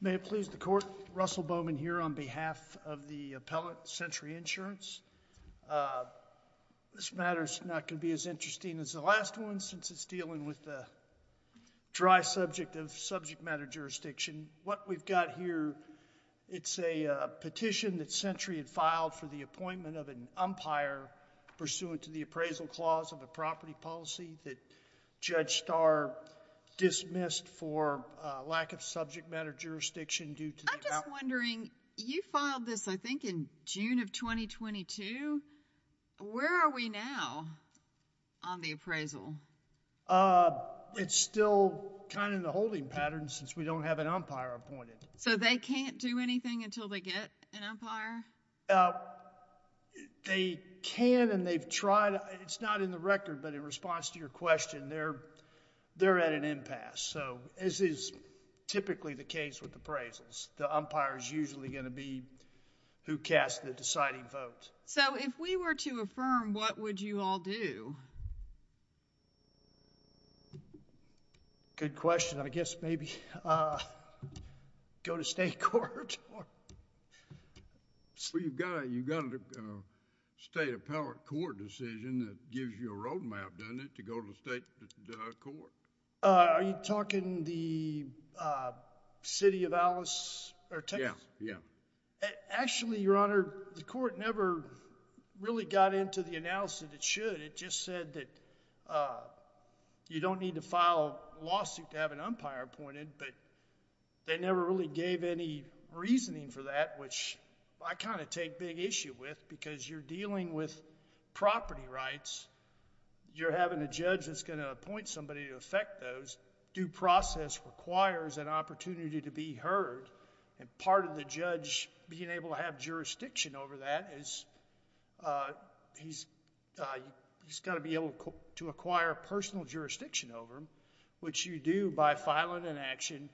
May it please the court, Russell Bowman here on behalf of the appellate Sentry Insurance. This matter is not going to be as interesting as the last one since it's dealing with the dry subject of subject matter jurisdiction. What we've got here, it's a petition that Sentry had filed for the appointment of an umpire. It's a policy that Judge Starr dismissed for lack of subject matter jurisdiction due to the... I'm just wondering, you filed this I think in June of 2022, where are we now on the appraisal? It's still kind of in the holding pattern since we don't have an umpire appointed. They can and they've tried. It's not in the record, but in response to your question, they're at an impasse. So this is typically the case with appraisals. The umpire is usually going to be who casts the deciding vote. So if we were to affirm, what would you all do? Good question. I guess maybe go to state court. You've got a state appellate court decision that gives you a roadmap, doesn't it, to go to the state court. Are you talking the City of Texas? Yes. Actually, Your Honor, the court never really got into the analysis that it should. It just said that you don't need to file a lawsuit to have an umpire appointed, but they never really gave any reasoning for that, which I kind of take big issue with because you're dealing with property rights. You're having a judge that's going to appoint somebody to affect those. Due process requires an opportunity to be heard and part of the judge being able to acquire jurisdiction over that is he's got to be able to acquire personal jurisdiction over them, which you do by filing an action,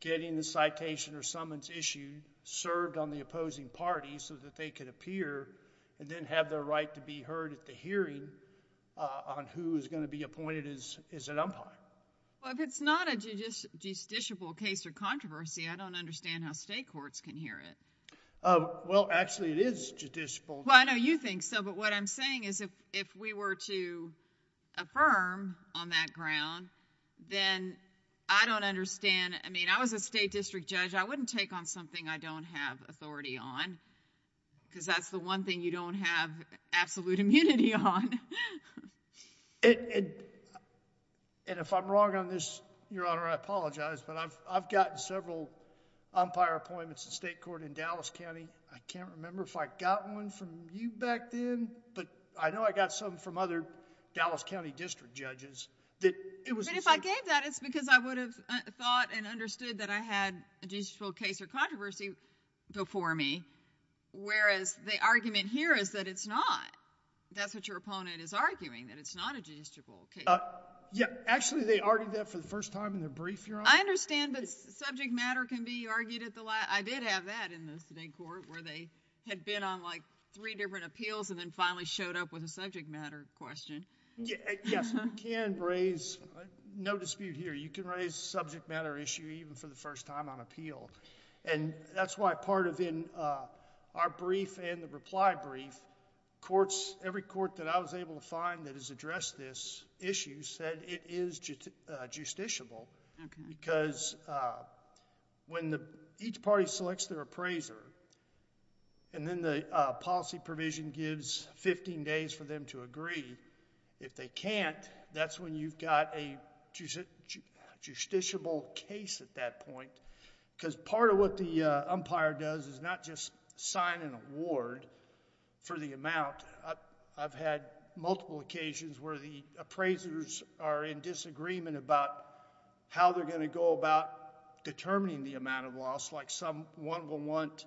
getting the citation or summons issued, served on the opposing party so that they can appear and then have their right to be heard at the hearing on who is going to be appointed as an umpire. Well, if it's not a justiciable case or controversy, I don't understand how state courts can hear it. Well, actually, it is justiciable. Well, I know you think so, but what I'm saying is if we were to affirm on that ground, then I don't understand. I mean, I was a state district judge. I wouldn't take on something I don't have authority on because that's the one thing you don't have absolute immunity on. If I'm wrong on this, Your Honor, I apologize, but I've gotten several umpire appointments in state court in Dallas County. I can't remember if I got one from you back then, but I know I got some from other Dallas County district judges that it was... If I gave that, it's because I would have thought and understood that I had a justiciable case or controversy before me, whereas the argument here is that it's not. That's what your opponent is arguing, that it's not a justiciable case. Yeah. Actually, they argued that for the first time in their brief, Your Honor. I understand, but subject matter can be argued at the... I did have that in the state court where they had been on like three different appeals and then finally showed up with a subject matter question. Yes. You can raise... no dispute here. You can raise a subject matter issue even for the first time on appeal. That's why part of in our brief and the reply brief, courts, every court that I was able to find that has addressed this issue said it is justiciable because when each party selects their appraiser and then the policy provision gives 15 days for them to agree, if they can't, that's when you've got a justiciable case at that point because part of what the umpire does is not just sign an award for the amount. I've had multiple occasions where the appraisers are in disagreement about how they're going to go about determining the amount of loss, like someone will want,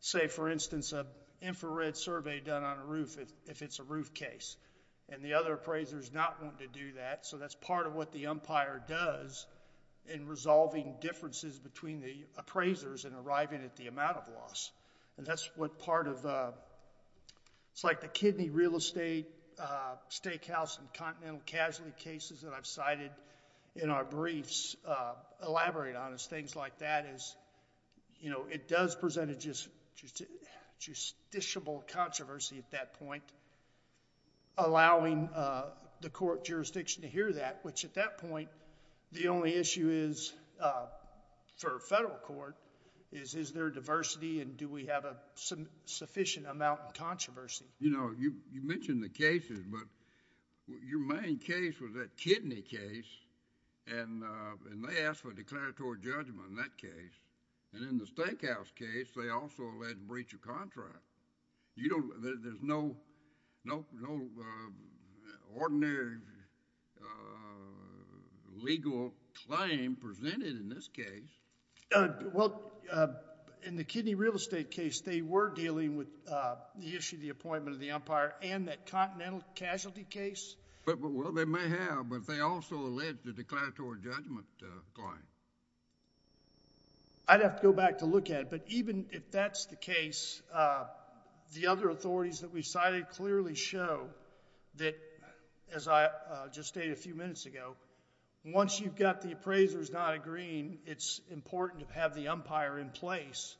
say for instance, an infrared survey done on a roof if it's a roof case and the other appraisers not want to do that. That's part of what the umpire does in resolving differences between the appraisers and arriving at the amount of loss. That's what part of... it's like the kidney real estate, steakhouse and continental casualty cases that I've cited in our briefs elaborate on is things like that. It does present a justiciable controversy at that point, allowing the court jurisdiction to hear that, which at that point, the only issue is for federal court is, is there diversity and do we have a sufficient amount of controversy? You mentioned the cases, but your main case was that kidney case and they asked for a declaratory judgment in that case. In the steakhouse case, they also alleged breach of contract. There's no ordinary legal claim presented in this case. Well, in the kidney real estate case, they were dealing with the issue of the appointment of the umpire and that continental casualty case. Well, they may have, but they also alleged a declaratory judgment claim. I'd have to go back to look at it, but even if that's the case, the other authorities that we cited clearly show that, as I just stated a few minutes ago, once you've got the appraisers not agreeing, it's important to have the umpire in place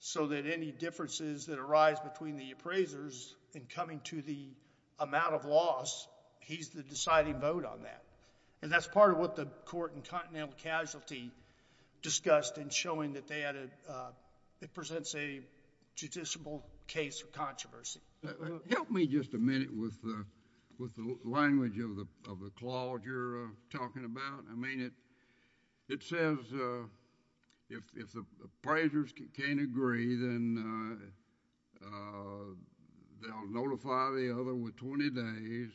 so that any differences that arise between the appraisers in coming to the amount of loss, he's the deciding vote on that. That's part of what the court in continental casualty discussed in showing that it presents a justiciable case of controversy. Help me just a minute with the language of the clause you're talking about. I mean, it says, if the appraisers can't agree, then they'll notify the other with 20 days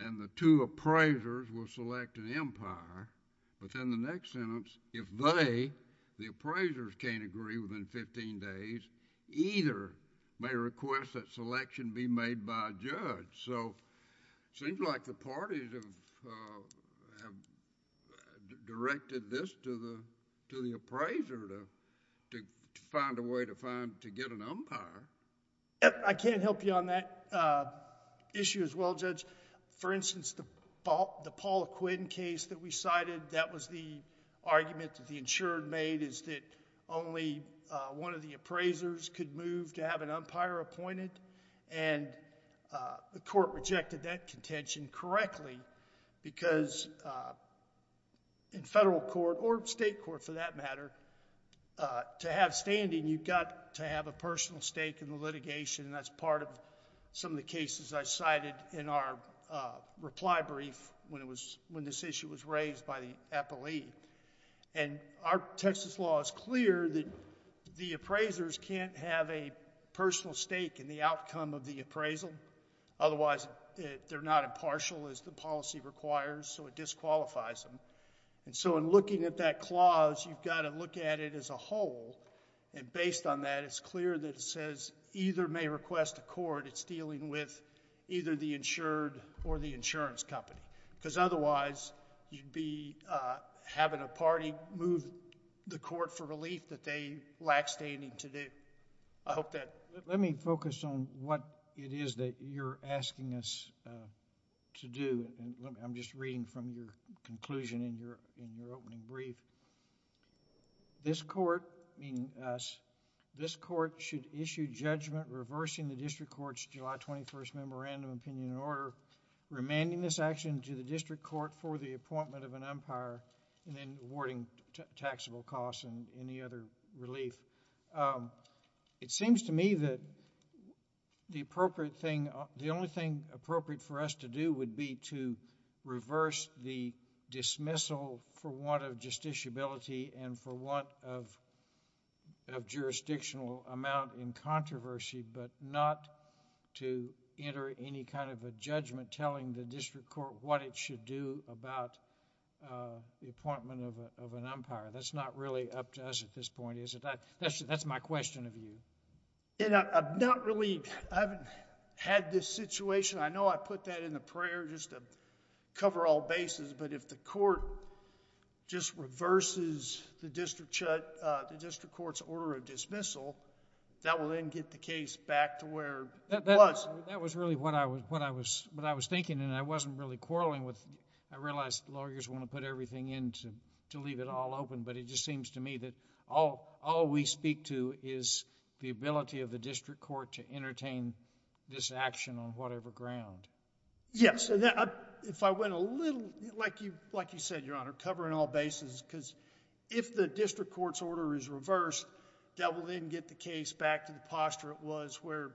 and the two appraisers will select an umpire, but then the next sentence, if they, the appraisers, can't agree within 15 days, either may request that selection be made by a judge. It seems like the parties have directed this to the appraiser to find a way to get an umpire. I can't help you on that issue as well, Judge. For instance, the Paul Quinn case that we cited, that was the argument that the insurer made is that only one of the appraisers could move to have an umpire appointed and the court rejected that contention correctly because in federal court or state court for that matter, to have standing, you've got to have a personal stake in the litigation and that's part of some of the cases I cited in our reply brief when this issue was raised by the appellee. And our Texas law is clear that the appraisers can't have a personal stake in the outcome of the appraisal, otherwise they're not impartial as the policy requires, so it disqualifies them. And so in looking at that clause, you've got to look at it as a whole and based on that, it's clear that it says either may request a court, it's dealing with either the insured or the insurance company because otherwise, you'd be having a party move the court for relief that they lack standing to do. I hope that...... Let me focus on what it is that you're asking us to do. I'm just reading from your conclusion in your opening brief. This court, meaning us, this court should issue judgment reversing the district court's July 21st Memorandum of Opinion and Order, remanding this action to the district court for the appointment of an umpire and then awarding taxable costs and any other relief. It seems to me that the appropriate thing, the only thing appropriate for us to do would be to reverse the dismissal for want of justiciability and for want of jurisdictional amount in order to enter any kind of a judgment telling the district court what it should do about the appointment of an umpire. That's not really up to us at this point, is it? That's my question of you... I'm not really... I haven't had this situation. I know I put that in the prayer just to cover all bases but if the court just reverses the district court's order of dismissal, that will then get the case back to where it was. That was really what I was thinking and I wasn't really quarreling with... I realize lawyers want to put everything in to leave it all open but it just seems to me that all we speak to is the ability of the district court to entertain this action on whatever ground. Yes. If I went a little... like you said, Your Honor, covering all bases because if the district court's order is reversed, that will then get the case back to the posture it was where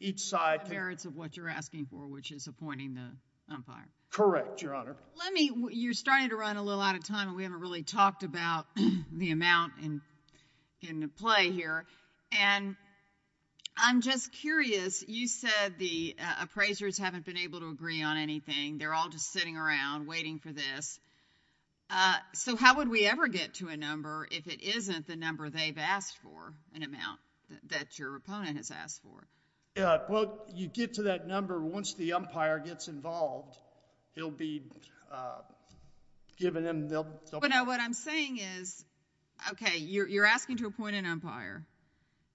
each side...... merits of what you're asking for, which is appointing the umpire. Correct, Your Honor. Let me... you're starting to run a little out of time and we haven't really talked about the amount in play here and I'm just curious. You said the appraisers haven't been able to agree on anything. They're all just sitting around waiting for this. So how would we ever get to a number if it isn't the number they've asked for, an amount that your opponent has asked for? Well, you get to that number once the umpire gets involved. It'll be given them... What I'm saying is, okay, you're asking to appoint an umpire.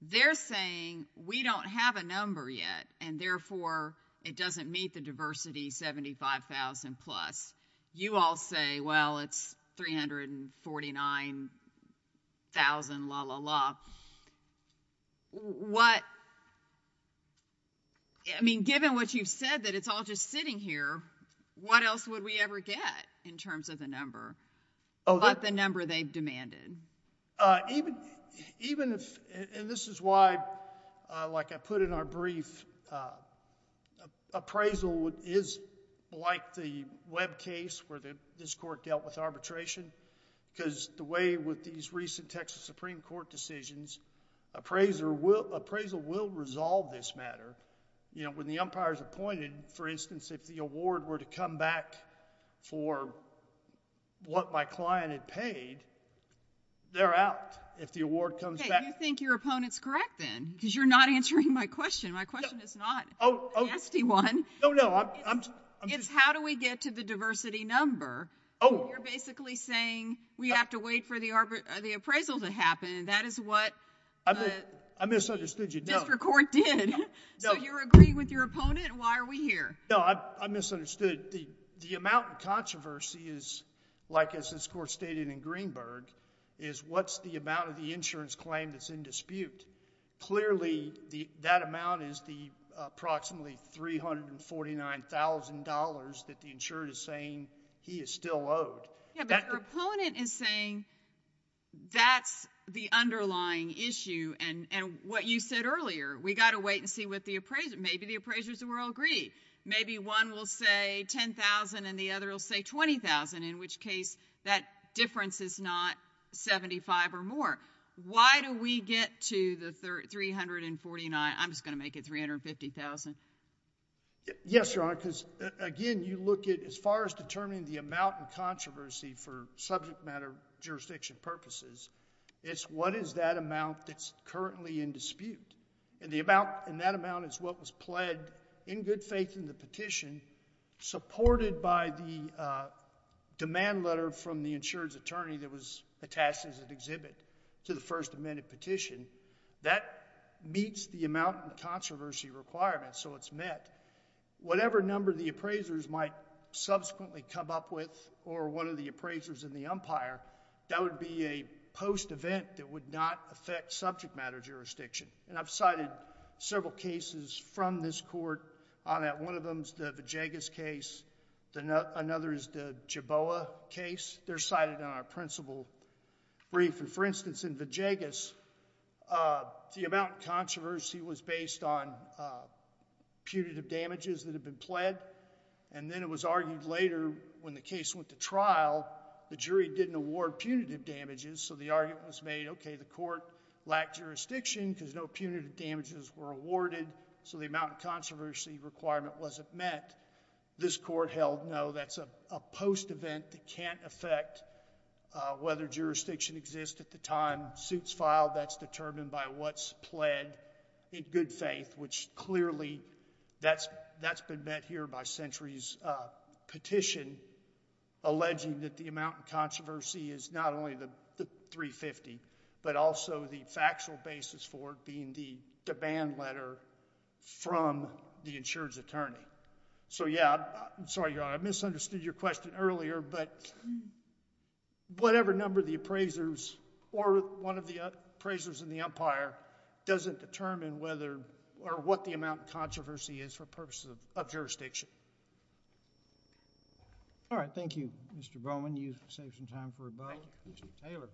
They're saying we don't have a number yet and therefore it doesn't meet the diversity 75,000 plus. You all say, well, it's 349,000, la, la, la. What... I mean, given what you've said that it's all just sitting here, what else would we ever get in terms of the number but the number they've demanded? Even if... and this is why, like I put in our brief, appraisal is like the Webb case where this court dealt with arbitration because the way with these recent Texas Supreme Court decisions, appraisal will resolve this matter. When the umpire's appointed, for instance, if the award were to come back for what my client had paid, they're out if the award comes back. Hey, you think your opponent's correct then because you're not answering my question. My question is not a nasty one. It's how do we get to the diversity number? You're basically saying we have to wait for the appraisal to happen. That is what the district court did. So you're agreeing with your opponent and why are we here? No, I misunderstood. The amount of controversy is, like as this court stated in Greenberg, is what's the amount of the insurance claim that's in dispute. Clearly, that amount is the approximately $349,000 that the insured is saying he is still owed. Yeah, but your opponent is saying that's the underlying issue and what you said earlier, we got to wait and see what the appraisal... maybe the appraisers will all agree. Maybe one will say $10,000 and the other will say $20,000, in which case that difference is not $75,000 or more. Why do we get to the $349,000? I'm just going to make it $350,000. Yes, Your Honor, because again, you look at as far as determining the amount of controversy for subject matter jurisdiction purposes, it's what is that amount that's currently in dispute. And that amount is what was pled in good faith in the petition supported by the demand letter from the insurance attorney that was attached as an exhibit. To the First Amendment petition, that meets the amount of controversy requirement, so it's met. Whatever number the appraisers might subsequently come up with or one of the appraisers in the umpire, that would be a post-event that would not affect subject matter jurisdiction. And I've cited several cases from this court on that. One of them is the Vajagas case. Another is the Jeboa case. They're cited in our principal brief. And for instance, in Vajagas, the amount of controversy was based on punitive damages that had been pled, and then it was argued later when the case went to trial, the jury didn't award punitive damages. So the argument was made, okay, the court lacked jurisdiction because no punitive damages were awarded, so the amount of controversy requirement wasn't met. This court held, no, that's a post-event that can't affect whether jurisdiction exists at the time. Suit's filed. That's determined by what's pled in good faith, which clearly, that's been met here by Century's petition alleging that the amount of controversy is not only the $350,000, but also the factual basis for it being the demand letter from the insurance attorney. So yeah, I'm sorry, Your Honor, I misunderstood your question earlier, but whatever number the appraisers, or one of the appraisers in the umpire, doesn't determine whether, or what the amount of controversy is for purposes of jurisdiction. All right. Thank you, Mr. Bowman. You saved some time for rebuttal. Thank you. Ms. Taylor.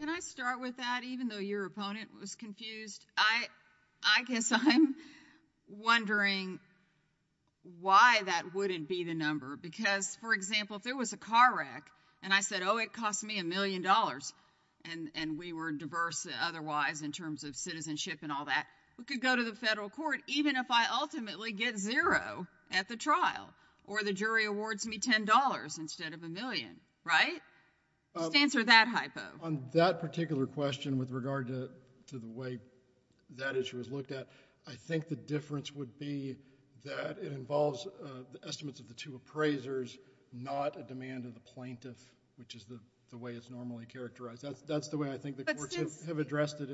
Can I start with that, even though your opponent was confused? I guess I'm wondering why that wouldn't be the number, because, for example, if there was a car wreck, and I said, oh, it cost me a million dollars, and we were diverse otherwise in terms of citizenship and all that, we could go to the federal court even if I ultimately get zero at the trial, or the jury awards me $10 instead of a million, right? Just answer that hypo. On that particular question with regard to the way that issue was looked at, I think the difference would be that it involves the estimates of the two appraisers, not a demand of the plaintiff, which is the way it's normally characterized. That's the way I think the courts have addressed it.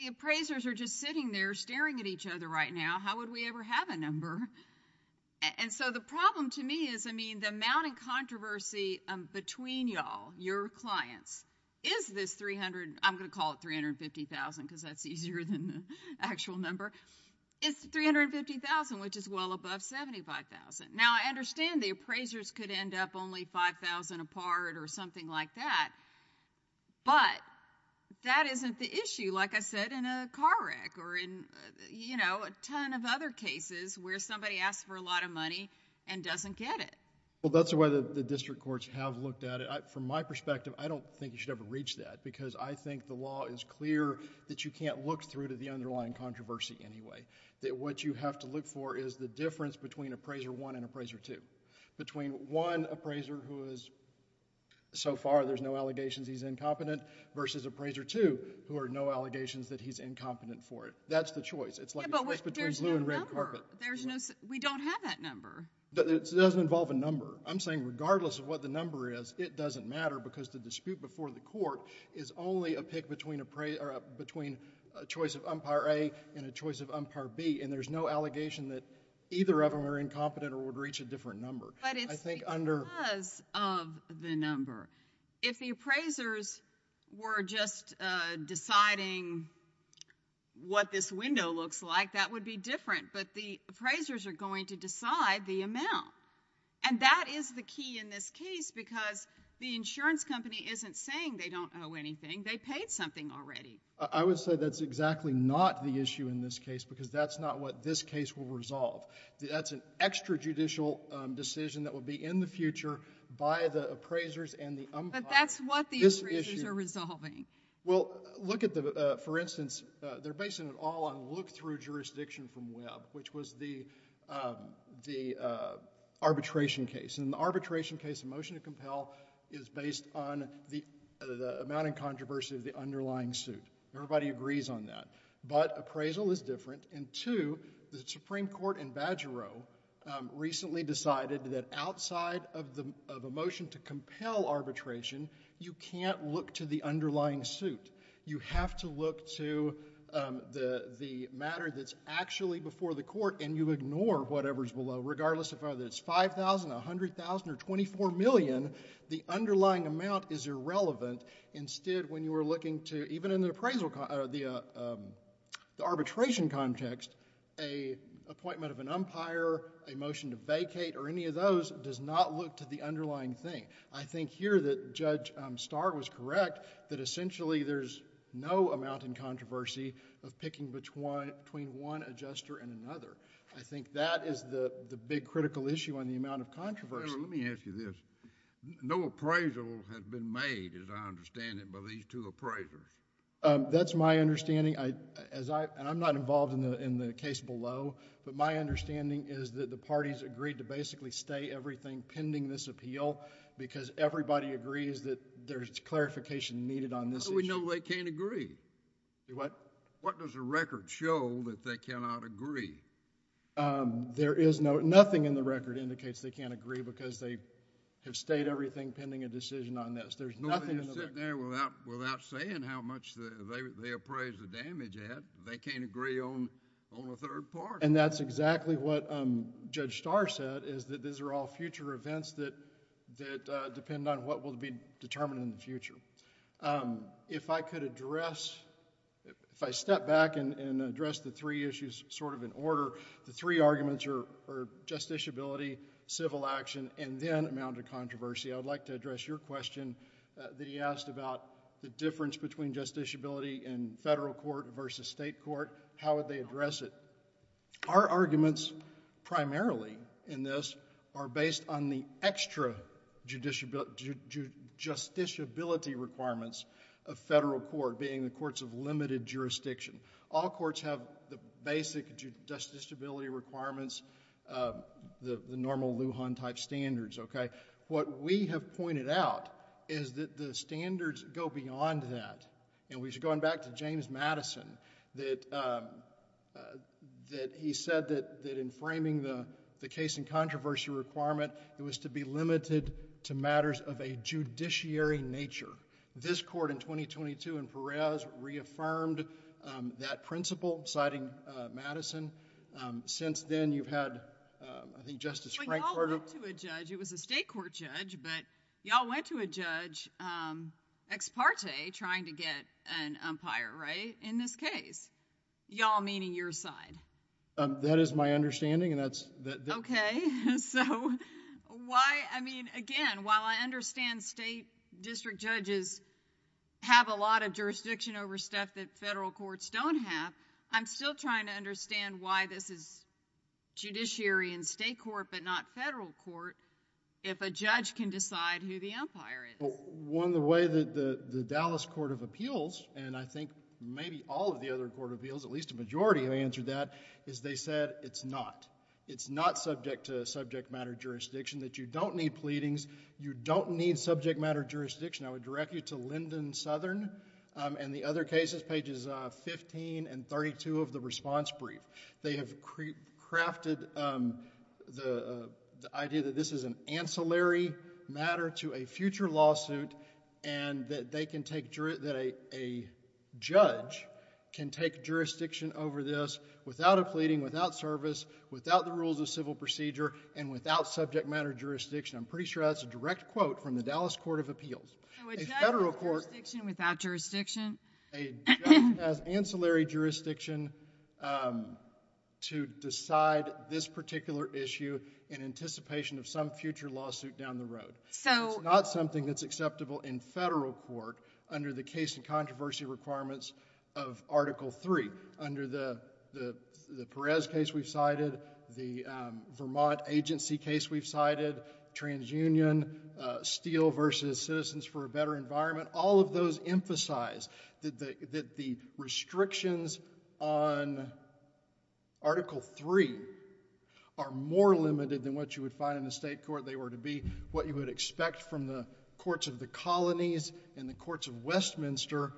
The appraisers are just sitting there staring at each other right now. How would we ever have a number? And so the problem to me is, I mean, the amount of controversy between y'all, your clients, is this... I'm going to call it $350,000 because that's easier than the actual number. It's $350,000, which is well above $75,000. Now, I understand the appraisers could end up only $5,000 apart or something like that, but that isn't the issue, like I said, in a car wreck or in a ton of other cases where somebody asks for a lot of money and doesn't get it. Well, that's the way the district courts have looked at it. From my perspective, I don't think you should ever reach that because I think the law is clear that you can't look through to the underlying controversy anyway, that what you have to look for is the difference between appraiser one and appraiser two, between one appraiser who is, so far there's no allegations he's incompetent, versus appraiser two, who are no allegations that he's incompetent for it. That's the choice. It's like the choice between blue and red carpet. Yeah, but there's no number. We don't have that number. It doesn't involve a number. I'm saying regardless of what the number is, it doesn't matter because the dispute before the court is only a pick between a choice of umpire A and a choice of umpire B, and there's no allegation that either of them are incompetent or would reach a different number. But it's because of the number. If the appraisers were just deciding what this window looks like, that would be different, but the appraisers are going to decide the amount, and that is the key in this case because the insurance company isn't saying they don't owe anything. They paid something already. I would say that's exactly not the issue in this case because that's not what this case will resolve. That's an extrajudicial decision that will be in the future by the appraisers and the umpire. But that's what the appraisers are resolving. Well, look at the, for instance, they're basing it all on look through jurisdiction from Webb, which was the arbitration case. In the arbitration case, the motion to compel is based on the amount and controversy of the underlying suit. Everybody agrees on that, but appraisal is different, and two, the Supreme Court in Badgerow recently decided that outside of a motion to compel arbitration, you can't look to the underlying suit. You have to look to the matter that's actually before the court, and you ignore whatever's below, regardless of whether it's $5,000, $100,000, or $24 million. The underlying amount is irrelevant. Instead, when you are looking to, even in the arbitration context, an appointment of an umpire, a motion to vacate, or any of those does not look to the underlying thing. I think here that Judge Starr was correct that essentially there's no amount in controversy of picking between one adjuster and another. I think that is the big critical issue on the amount of controversy. Let me ask you this. No appraisal has been made, as I understand it, by these two appraisers. That's my understanding, and I'm not involved in the case below, but my understanding is that the parties agreed to basically stay everything pending this appeal, because everybody agrees that there's clarification needed on this issue. How do we know they can't agree? What? What does the record show that they cannot agree? There is no... nothing in the record indicates they can't agree, because they have stayed everything pending a decision on this. There's nothing in the record... Nobody is sitting there without saying how much they appraised the damage at. They can't agree on a third party. That's exactly what Judge Starr said, is that these are all future events that depend on what will be determined in the future. If I could address... if I step back and address the three issues in order, the three arguments are justiciability, civil action, and then amount of controversy. I would like to address your question that he asked about the difference between justiciability in federal court versus state court. How would they address it? Our arguments primarily in this are based on the extra justiciability requirements of federal court, being the courts of limited jurisdiction. All courts have the basic justiciability requirements, the normal Lujan-type standards, okay? What we have pointed out is that the standards go beyond that. We should go on back to James Madison, that he said that in framing the case and controversy requirement, it was to be limited to matters of a judiciary nature. This court in 2022 in Perez reaffirmed that principle, citing Madison. Since then, you've had, I think, Justice Frank... Well, you all went to a judge. It was a state court judge, but you all went to a judge, ex parte, trying to get an umpire, right, in this case? You all meaning your side? That is my understanding and that's... Okay, so why, I mean, again, while I understand state district judges have a lot of jurisdiction over stuff that federal courts don't have, I'm still trying to understand why this is judiciary in state court but not federal court if a judge can decide who the umpire is. One of the ways that the Dallas Court of Appeals, and I think maybe all of the other court of appeals, at least a majority have answered that, is they said it's not. It's not subject to subject matter jurisdiction, that you don't need pleadings, you don't need subject matter jurisdiction. I would direct you to Lyndon Southern and the other cases, pages 15 and 32 of the response brief. They have crafted the idea that this is an ancillary matter to a future lawsuit and that they can take... that a judge can take jurisdiction over this without a pleading, without service, without the rules of civil procedure and without subject matter jurisdiction. I'm pretty sure that's a direct quote from the Dallas Court of Appeals. A federal court... A judge has jurisdiction without jurisdiction? A judge has ancillary jurisdiction to decide this particular issue in anticipation of some future lawsuit down the road. It's not something that's acceptable in federal court under the case and controversy requirements of Article III. Under the Perez case we've cited, the Vermont agency case we've cited, TransUnion, Steele versus Citizens for a Better Environment, all of those emphasize that the restrictions on Article III are more limited than what you would find in the state court, they were to be what you would expect from the courts of the colonies and the courts of Westminster.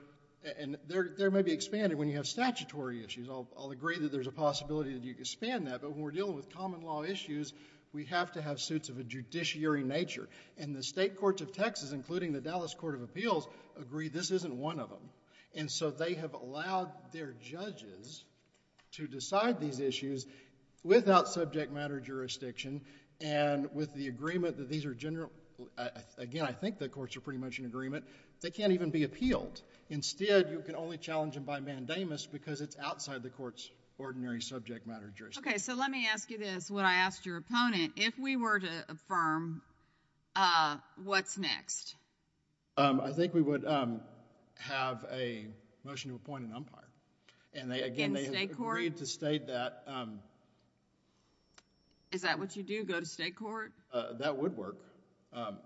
There may be expanded when you have statutory issues. I'll agree that there's a possibility that you expand that, but when we're dealing with common law issues, we have to have suits of a judiciary nature. The state courts of Texas, including the Dallas Court of Appeals, agree this isn't one of them. They have allowed their judges to decide these issues without subject matter jurisdiction and with the agreement that these are general... again, I think the courts are pretty much in agreement. They can't even be appealed. Instead, you can only challenge them by mandamus because it's outside the court's ordinary subject matter jurisdiction. Okay. Let me ask you this. When I asked your opponent, if we were to affirm, what's next? I think we would have a motion to appoint an umpire and again, they agreed to state that... Is that what you do? Go to state court? That would work.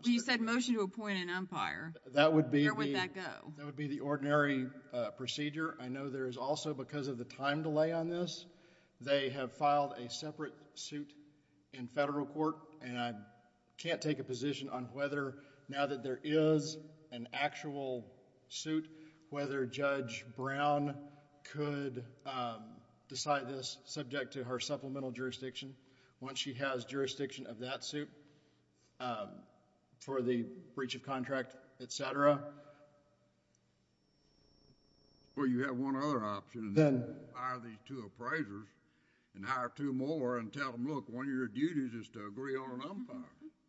You said motion to appoint an umpire. That would be... Where would that go? That would be the ordinary procedure. I know there is also, because of the time delay on this, they have filed a separate suit in federal court and I can't take a position on whether now that there is an actual suit, whether Judge Brown could decide this subject to her supplemental jurisdiction once she has jurisdiction of that suit for the breach of contract, etc. Well, you have one other option and then hire these two appraisers and hire two more and tell them, look, one of your duties is to agree on an umpire.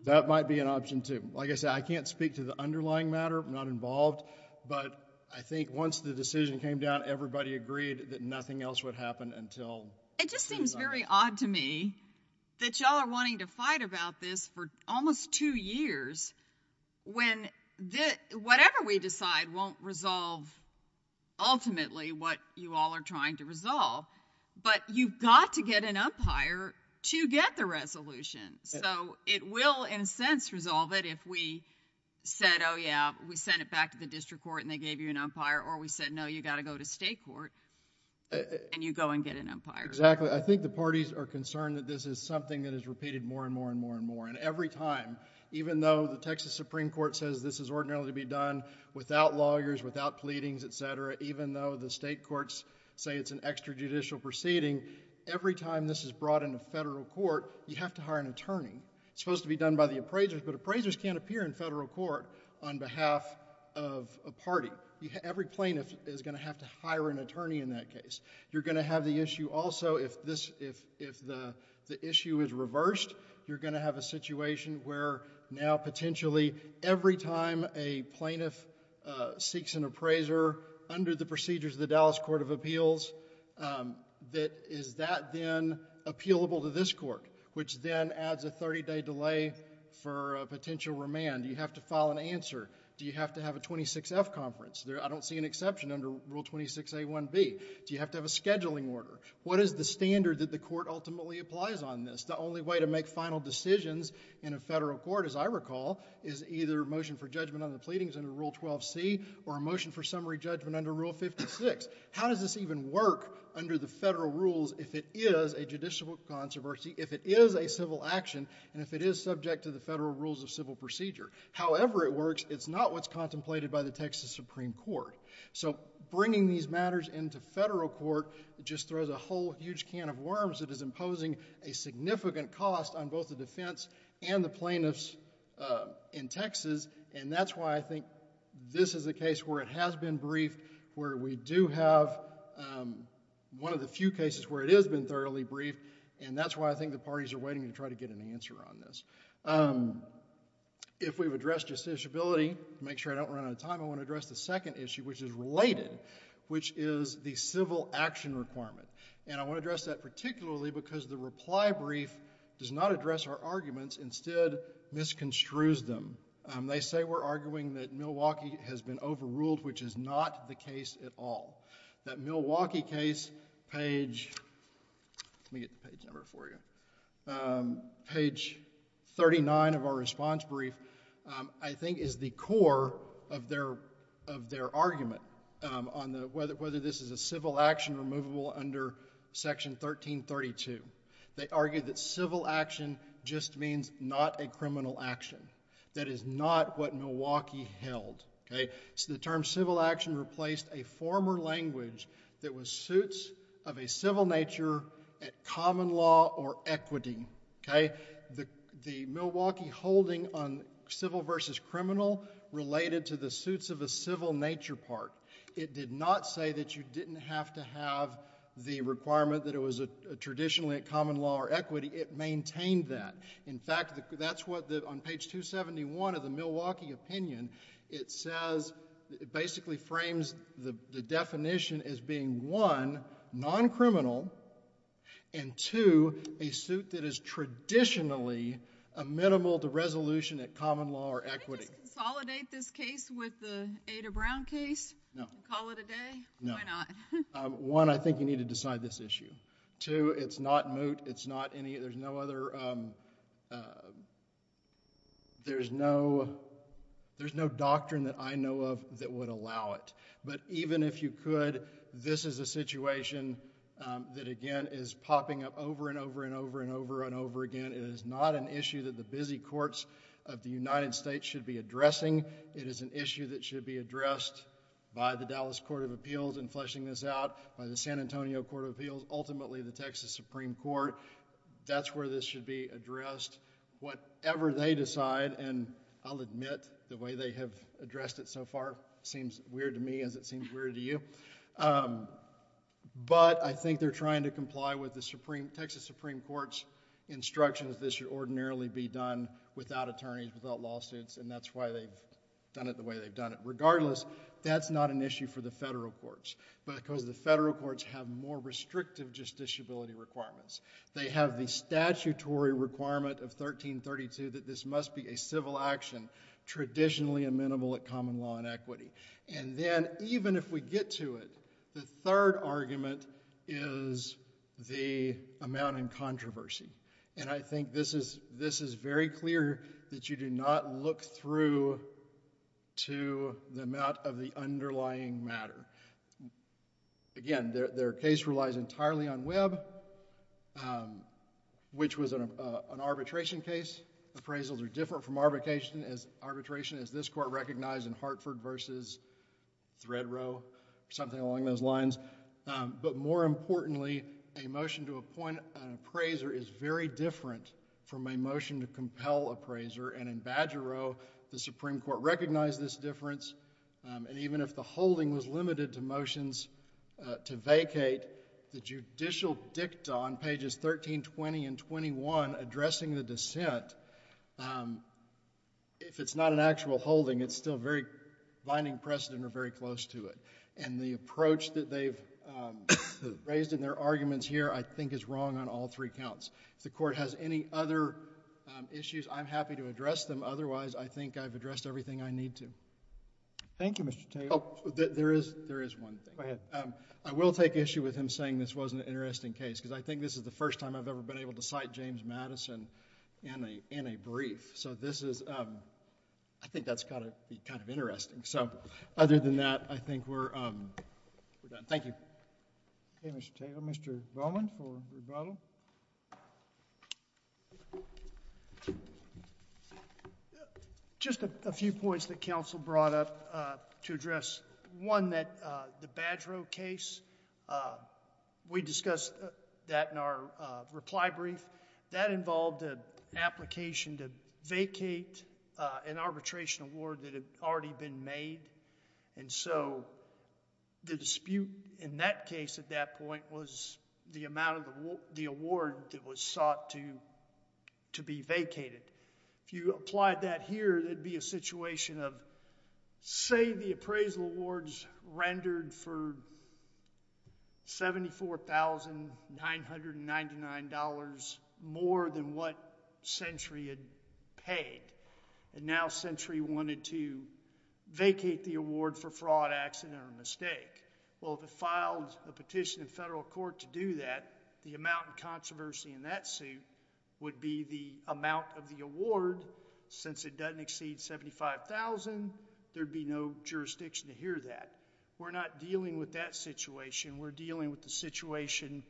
That might be an option too. Like I said, I can't speak to the underlying matter. I'm not involved, but I think once the decision came down, everybody agreed that nothing else would happen until... It just seems very odd to me that you all are wanting to fight about this for almost two years when whatever we decide won't resolve ultimately what you all are trying to resolve, but you've got to get an umpire to get the resolution. So, it will in a sense resolve it if we said, oh yeah, we sent it back to the district court and they gave you an umpire or we said, no, you've got to go to state court and you go and get an umpire. Exactly. I think the parties are concerned that this is something that is repeated more and more and more and more. Every time, even though the Texas Supreme Court says this is ordinarily to be done without lawyers, without pleadings, etc., even though the state courts say it's an extrajudicial proceeding, every time this is brought into federal court, you have to hire an attorney. It's supposed to be done by the appraisers, but appraisers can't appear in federal court on behalf of a party. Every plaintiff is going to have to hire an attorney in that case. You're going to have the issue also if the issue is reversed, you're going to have a situation where now potentially every time a plaintiff seeks an appraiser under the procedures of the Dallas Court of Appeals, is that then appealable to this court, which then adds a thirty-day delay for a potential remand? Do you have to file an answer? Do you have to have a 26F conference? I don't see an exception under Rule 26A1B. Do you have to have a scheduling order? What is the standard that the court ultimately applies on this? The only way to make final decisions in a federal court, as I recall, is either a motion for judgment on the pleadings under Rule 12C or a motion for summary judgment under Rule 56. How does this even work under the federal rules if it is a judicial controversy, if it is a civil action, and if it is subject to the federal rules of civil procedure? However it works, it's not what's contemplated by the Texas Supreme Court. So bringing these matters into federal court just throws a whole huge can of worms that is imposing a significant cost on both the defense and the plaintiffs in Texas, and that's why I think this is a case where it has been briefed, where we do have one of the few cases where it has been thoroughly briefed, and that's why I think the parties are waiting to try to get an answer on this. If we've addressed justiciability, to make sure I don't run out of time, I want to address the second issue, which is related, which is the civil action requirement. And I want to address that particularly because the reply brief does not address our arguments, instead misconstrues them. They say we're arguing that Milwaukee has been overruled, which is not the case at all. That Milwaukee case, page... let me get the page number for you. Page 39 of our response brief, I think is the core of their argument on whether this is a civil action or movable under Section 1332. They argue that civil action just means not a criminal action. That is not what Milwaukee held, okay? The term civil action replaced a former language that was suits of a civil nature at common law or equity, okay? The Milwaukee holding on civil versus criminal related to the suits of a civil nature part. It did not say that you didn't have to have the requirement that it was traditionally at common law or equity. It maintained that. In fact, that's what, on page 271 of the Milwaukee opinion, it says, it basically frames the definition as being one, non-criminal, and two, a suit that is traditionally a minimal to resolution at common law or equity. Can I just consolidate this case with the Ada Brown case? No. Call it a day? No. Why not? One, I think you need to decide this issue. Two, it's not moot. It's not any... there's no other... there's no doctrine that I know of that would allow it, but even if you could, this is a situation that, again, is popping up over and over and over and over and over again. It is not an issue that the busy courts of the United States should be addressing. It is an issue that should be addressed by the Dallas Court of Appeals in fleshing this out, by the San Antonio Court of Appeals, ultimately the Texas Supreme Court. That's where this should be addressed, whatever they decide, and I'll admit, the way they have addressed it so far seems weird to me as it seems weird to you, but I think they're trying to comply with the Texas Supreme Court's instructions. This should ordinarily be done without attorneys, without lawsuits, and that's why they've done it the way they've done it. Regardless, that's not an issue for the federal courts because the federal courts have more restrictive justiciability requirements. They have the statutory requirement of 1332 that this must be a civil action traditionally amenable at common law and equity, and then even if we get to it, the third argument is the amount in controversy, and I think this is very clear that you do not look through to the amount of the underlying matter. Again, their case relies entirely on Webb, which was an arbitration case. Appraisals are different from arbitration as this court recognized in Hartford versus Threadrow, something along those lines, but more importantly, a motion to appoint an appraiser is very different from a motion to compel appraiser, and in Badgerow, the Supreme Court recognized this difference, and even if the holding was limited to motions to vacate, the judicial dicta on pages 1320 and 21 addressing the dissent, if it's not an actual holding, it's still very binding precedent or very close to it, and the approach that they've raised in their arguments here, I think, is wrong on all three counts. If the court has any other issues, I'm happy to address them, otherwise, I think I've addressed everything I need to. Thank you, Mr. Taylor. There is one thing. Go ahead. I will take issue with him saying this wasn't an interesting case because I think this is the first time I've ever been able to cite James Madison in a brief, so I think that's got to be kind of interesting, so other than that, I think we're done. Thank you. Okay, Mr. Taylor. We'll go to Mr. Bowman for rebuttal. Just a few points that counsel brought up to address. One that the Badgerow case, we discussed that in our reply brief. That involved an application to vacate an arbitration award that had already been made, and so the dispute in that case at that point was the amount of the award that was sought to be vacated. If you applied that here, there'd be a situation of, say, the appraisal awards rendered for $74,999 more than what Century had paid, and now Century wanted to vacate the award for fraud, accident, or mistake. Well, if it filed a petition in federal court to do that, the amount of controversy in that suit would be the amount of the award. Since it doesn't exceed $75,000, there'd be no jurisdiction to hear that. We're not dealing with that situation. We're dealing with the situation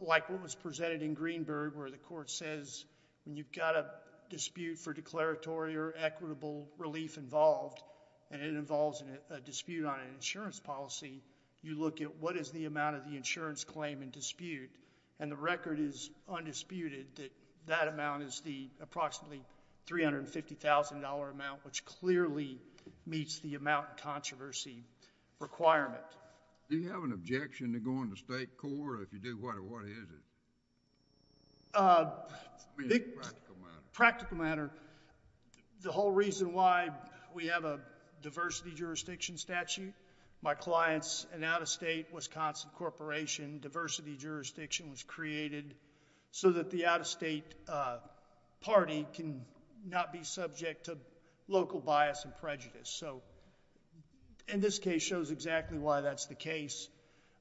like what was presented in Greenberg where the court says when you've got a dispute for declaratory or equitable relief involved, and it involves a dispute on an insurance policy, you look at what is the amount of the insurance claim in dispute, and the record is undisputed that that amount is the approximately $350,000 amount, which clearly meets the amount controversy requirement. Do you have an objection to going to state court, or if you do, what is it? It's a practical matter. The whole reason why we have a diversity jurisdiction statute, my clients, an out-of-state Wisconsin corporation, diversity jurisdiction was created so that the out-of-state party can not be subject to local bias and prejudice. In this case, it shows exactly why that's the case.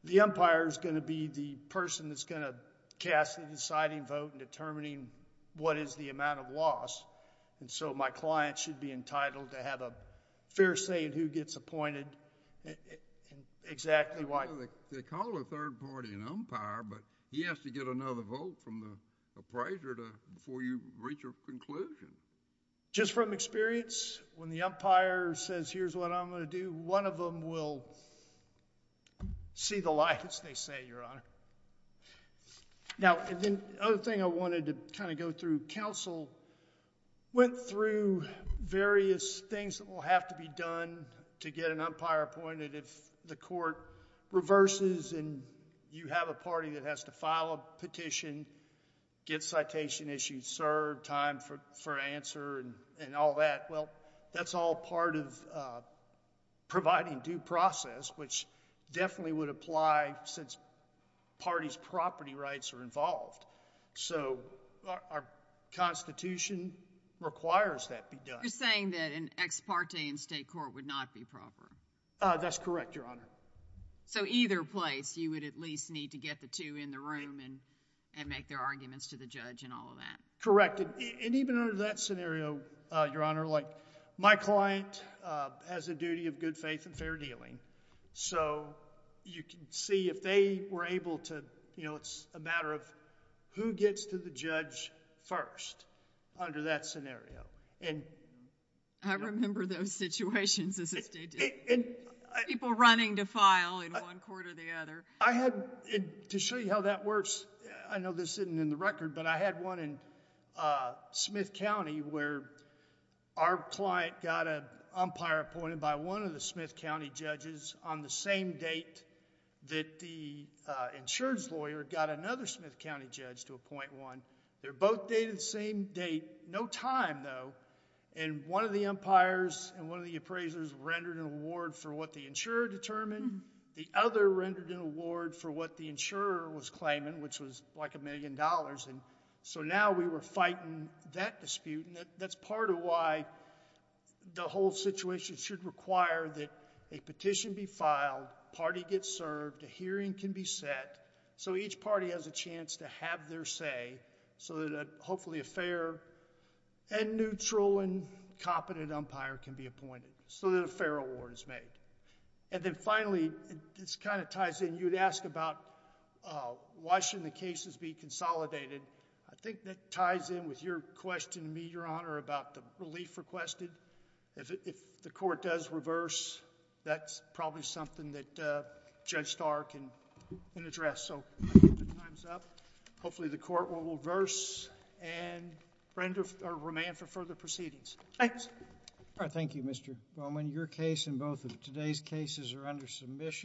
The umpire is going to be the person that's going to cast the deciding vote in determining what is the amount of loss, and so my client should be entitled to have a fair say in who gets appointed and exactly why... They call a third party an umpire, but he has to get another vote from the appraiser before you reach a conclusion. Just from experience, when the umpire says, here's what I'm going to do, one of them will see the light as they say, Your Honor. Now, the other thing I wanted to go through, counsel went through various things that will have to be done to get an umpire appointed if the court reverses and you have a party that has to file a petition, get citation issued, serve time for providing due process, which definitely would apply since parties' property rights are involved. So our Constitution requires that be done. You're saying that an ex parte in state court would not be proper? That's correct, Your Honor. So either place, you would at least need to get the two in the room and make their arguments to the judge and all of that? Correct. And even under that scenario, Your Honor, my client has a duty of good faith and fair dealing, so you can see if they were able to... it's a matter of who gets to the judge first under that scenario. I remember those situations as if they did. People running to file in one court or the other. To show you how that works, I know this isn't in the record, but I had one in Smith County where our client got an umpire appointed by one of the Smith County judges on the same date that the insurance lawyer got another Smith County judge to appoint one. They're both dated the same date, no time though, and one of the umpires and one of the appraisers rendered an award for what the insurer determined. The other rendered an award for what the insurer was claiming, which was like a million dollars. So now we were fighting that dispute, and that's part of why the whole situation should require that a petition be filed, party gets served, a hearing can be set so each party has a chance to have their say so that hopefully a fair and neutral and competent umpire can be appointed so that a fair award is made. And then finally, this kind of ties in, you'd ask about why shouldn't the cases be consolidated. I think that ties in with your question to me, Your Honor, about the relief requested. If the court does reverse, that's probably something that Judge Starr can address. So I think the time's up. Hopefully the court will reverse and remain for further proceedings. Thanks. All right, thank you, Mr. Bowman. Your case and both of today's cases are under submission.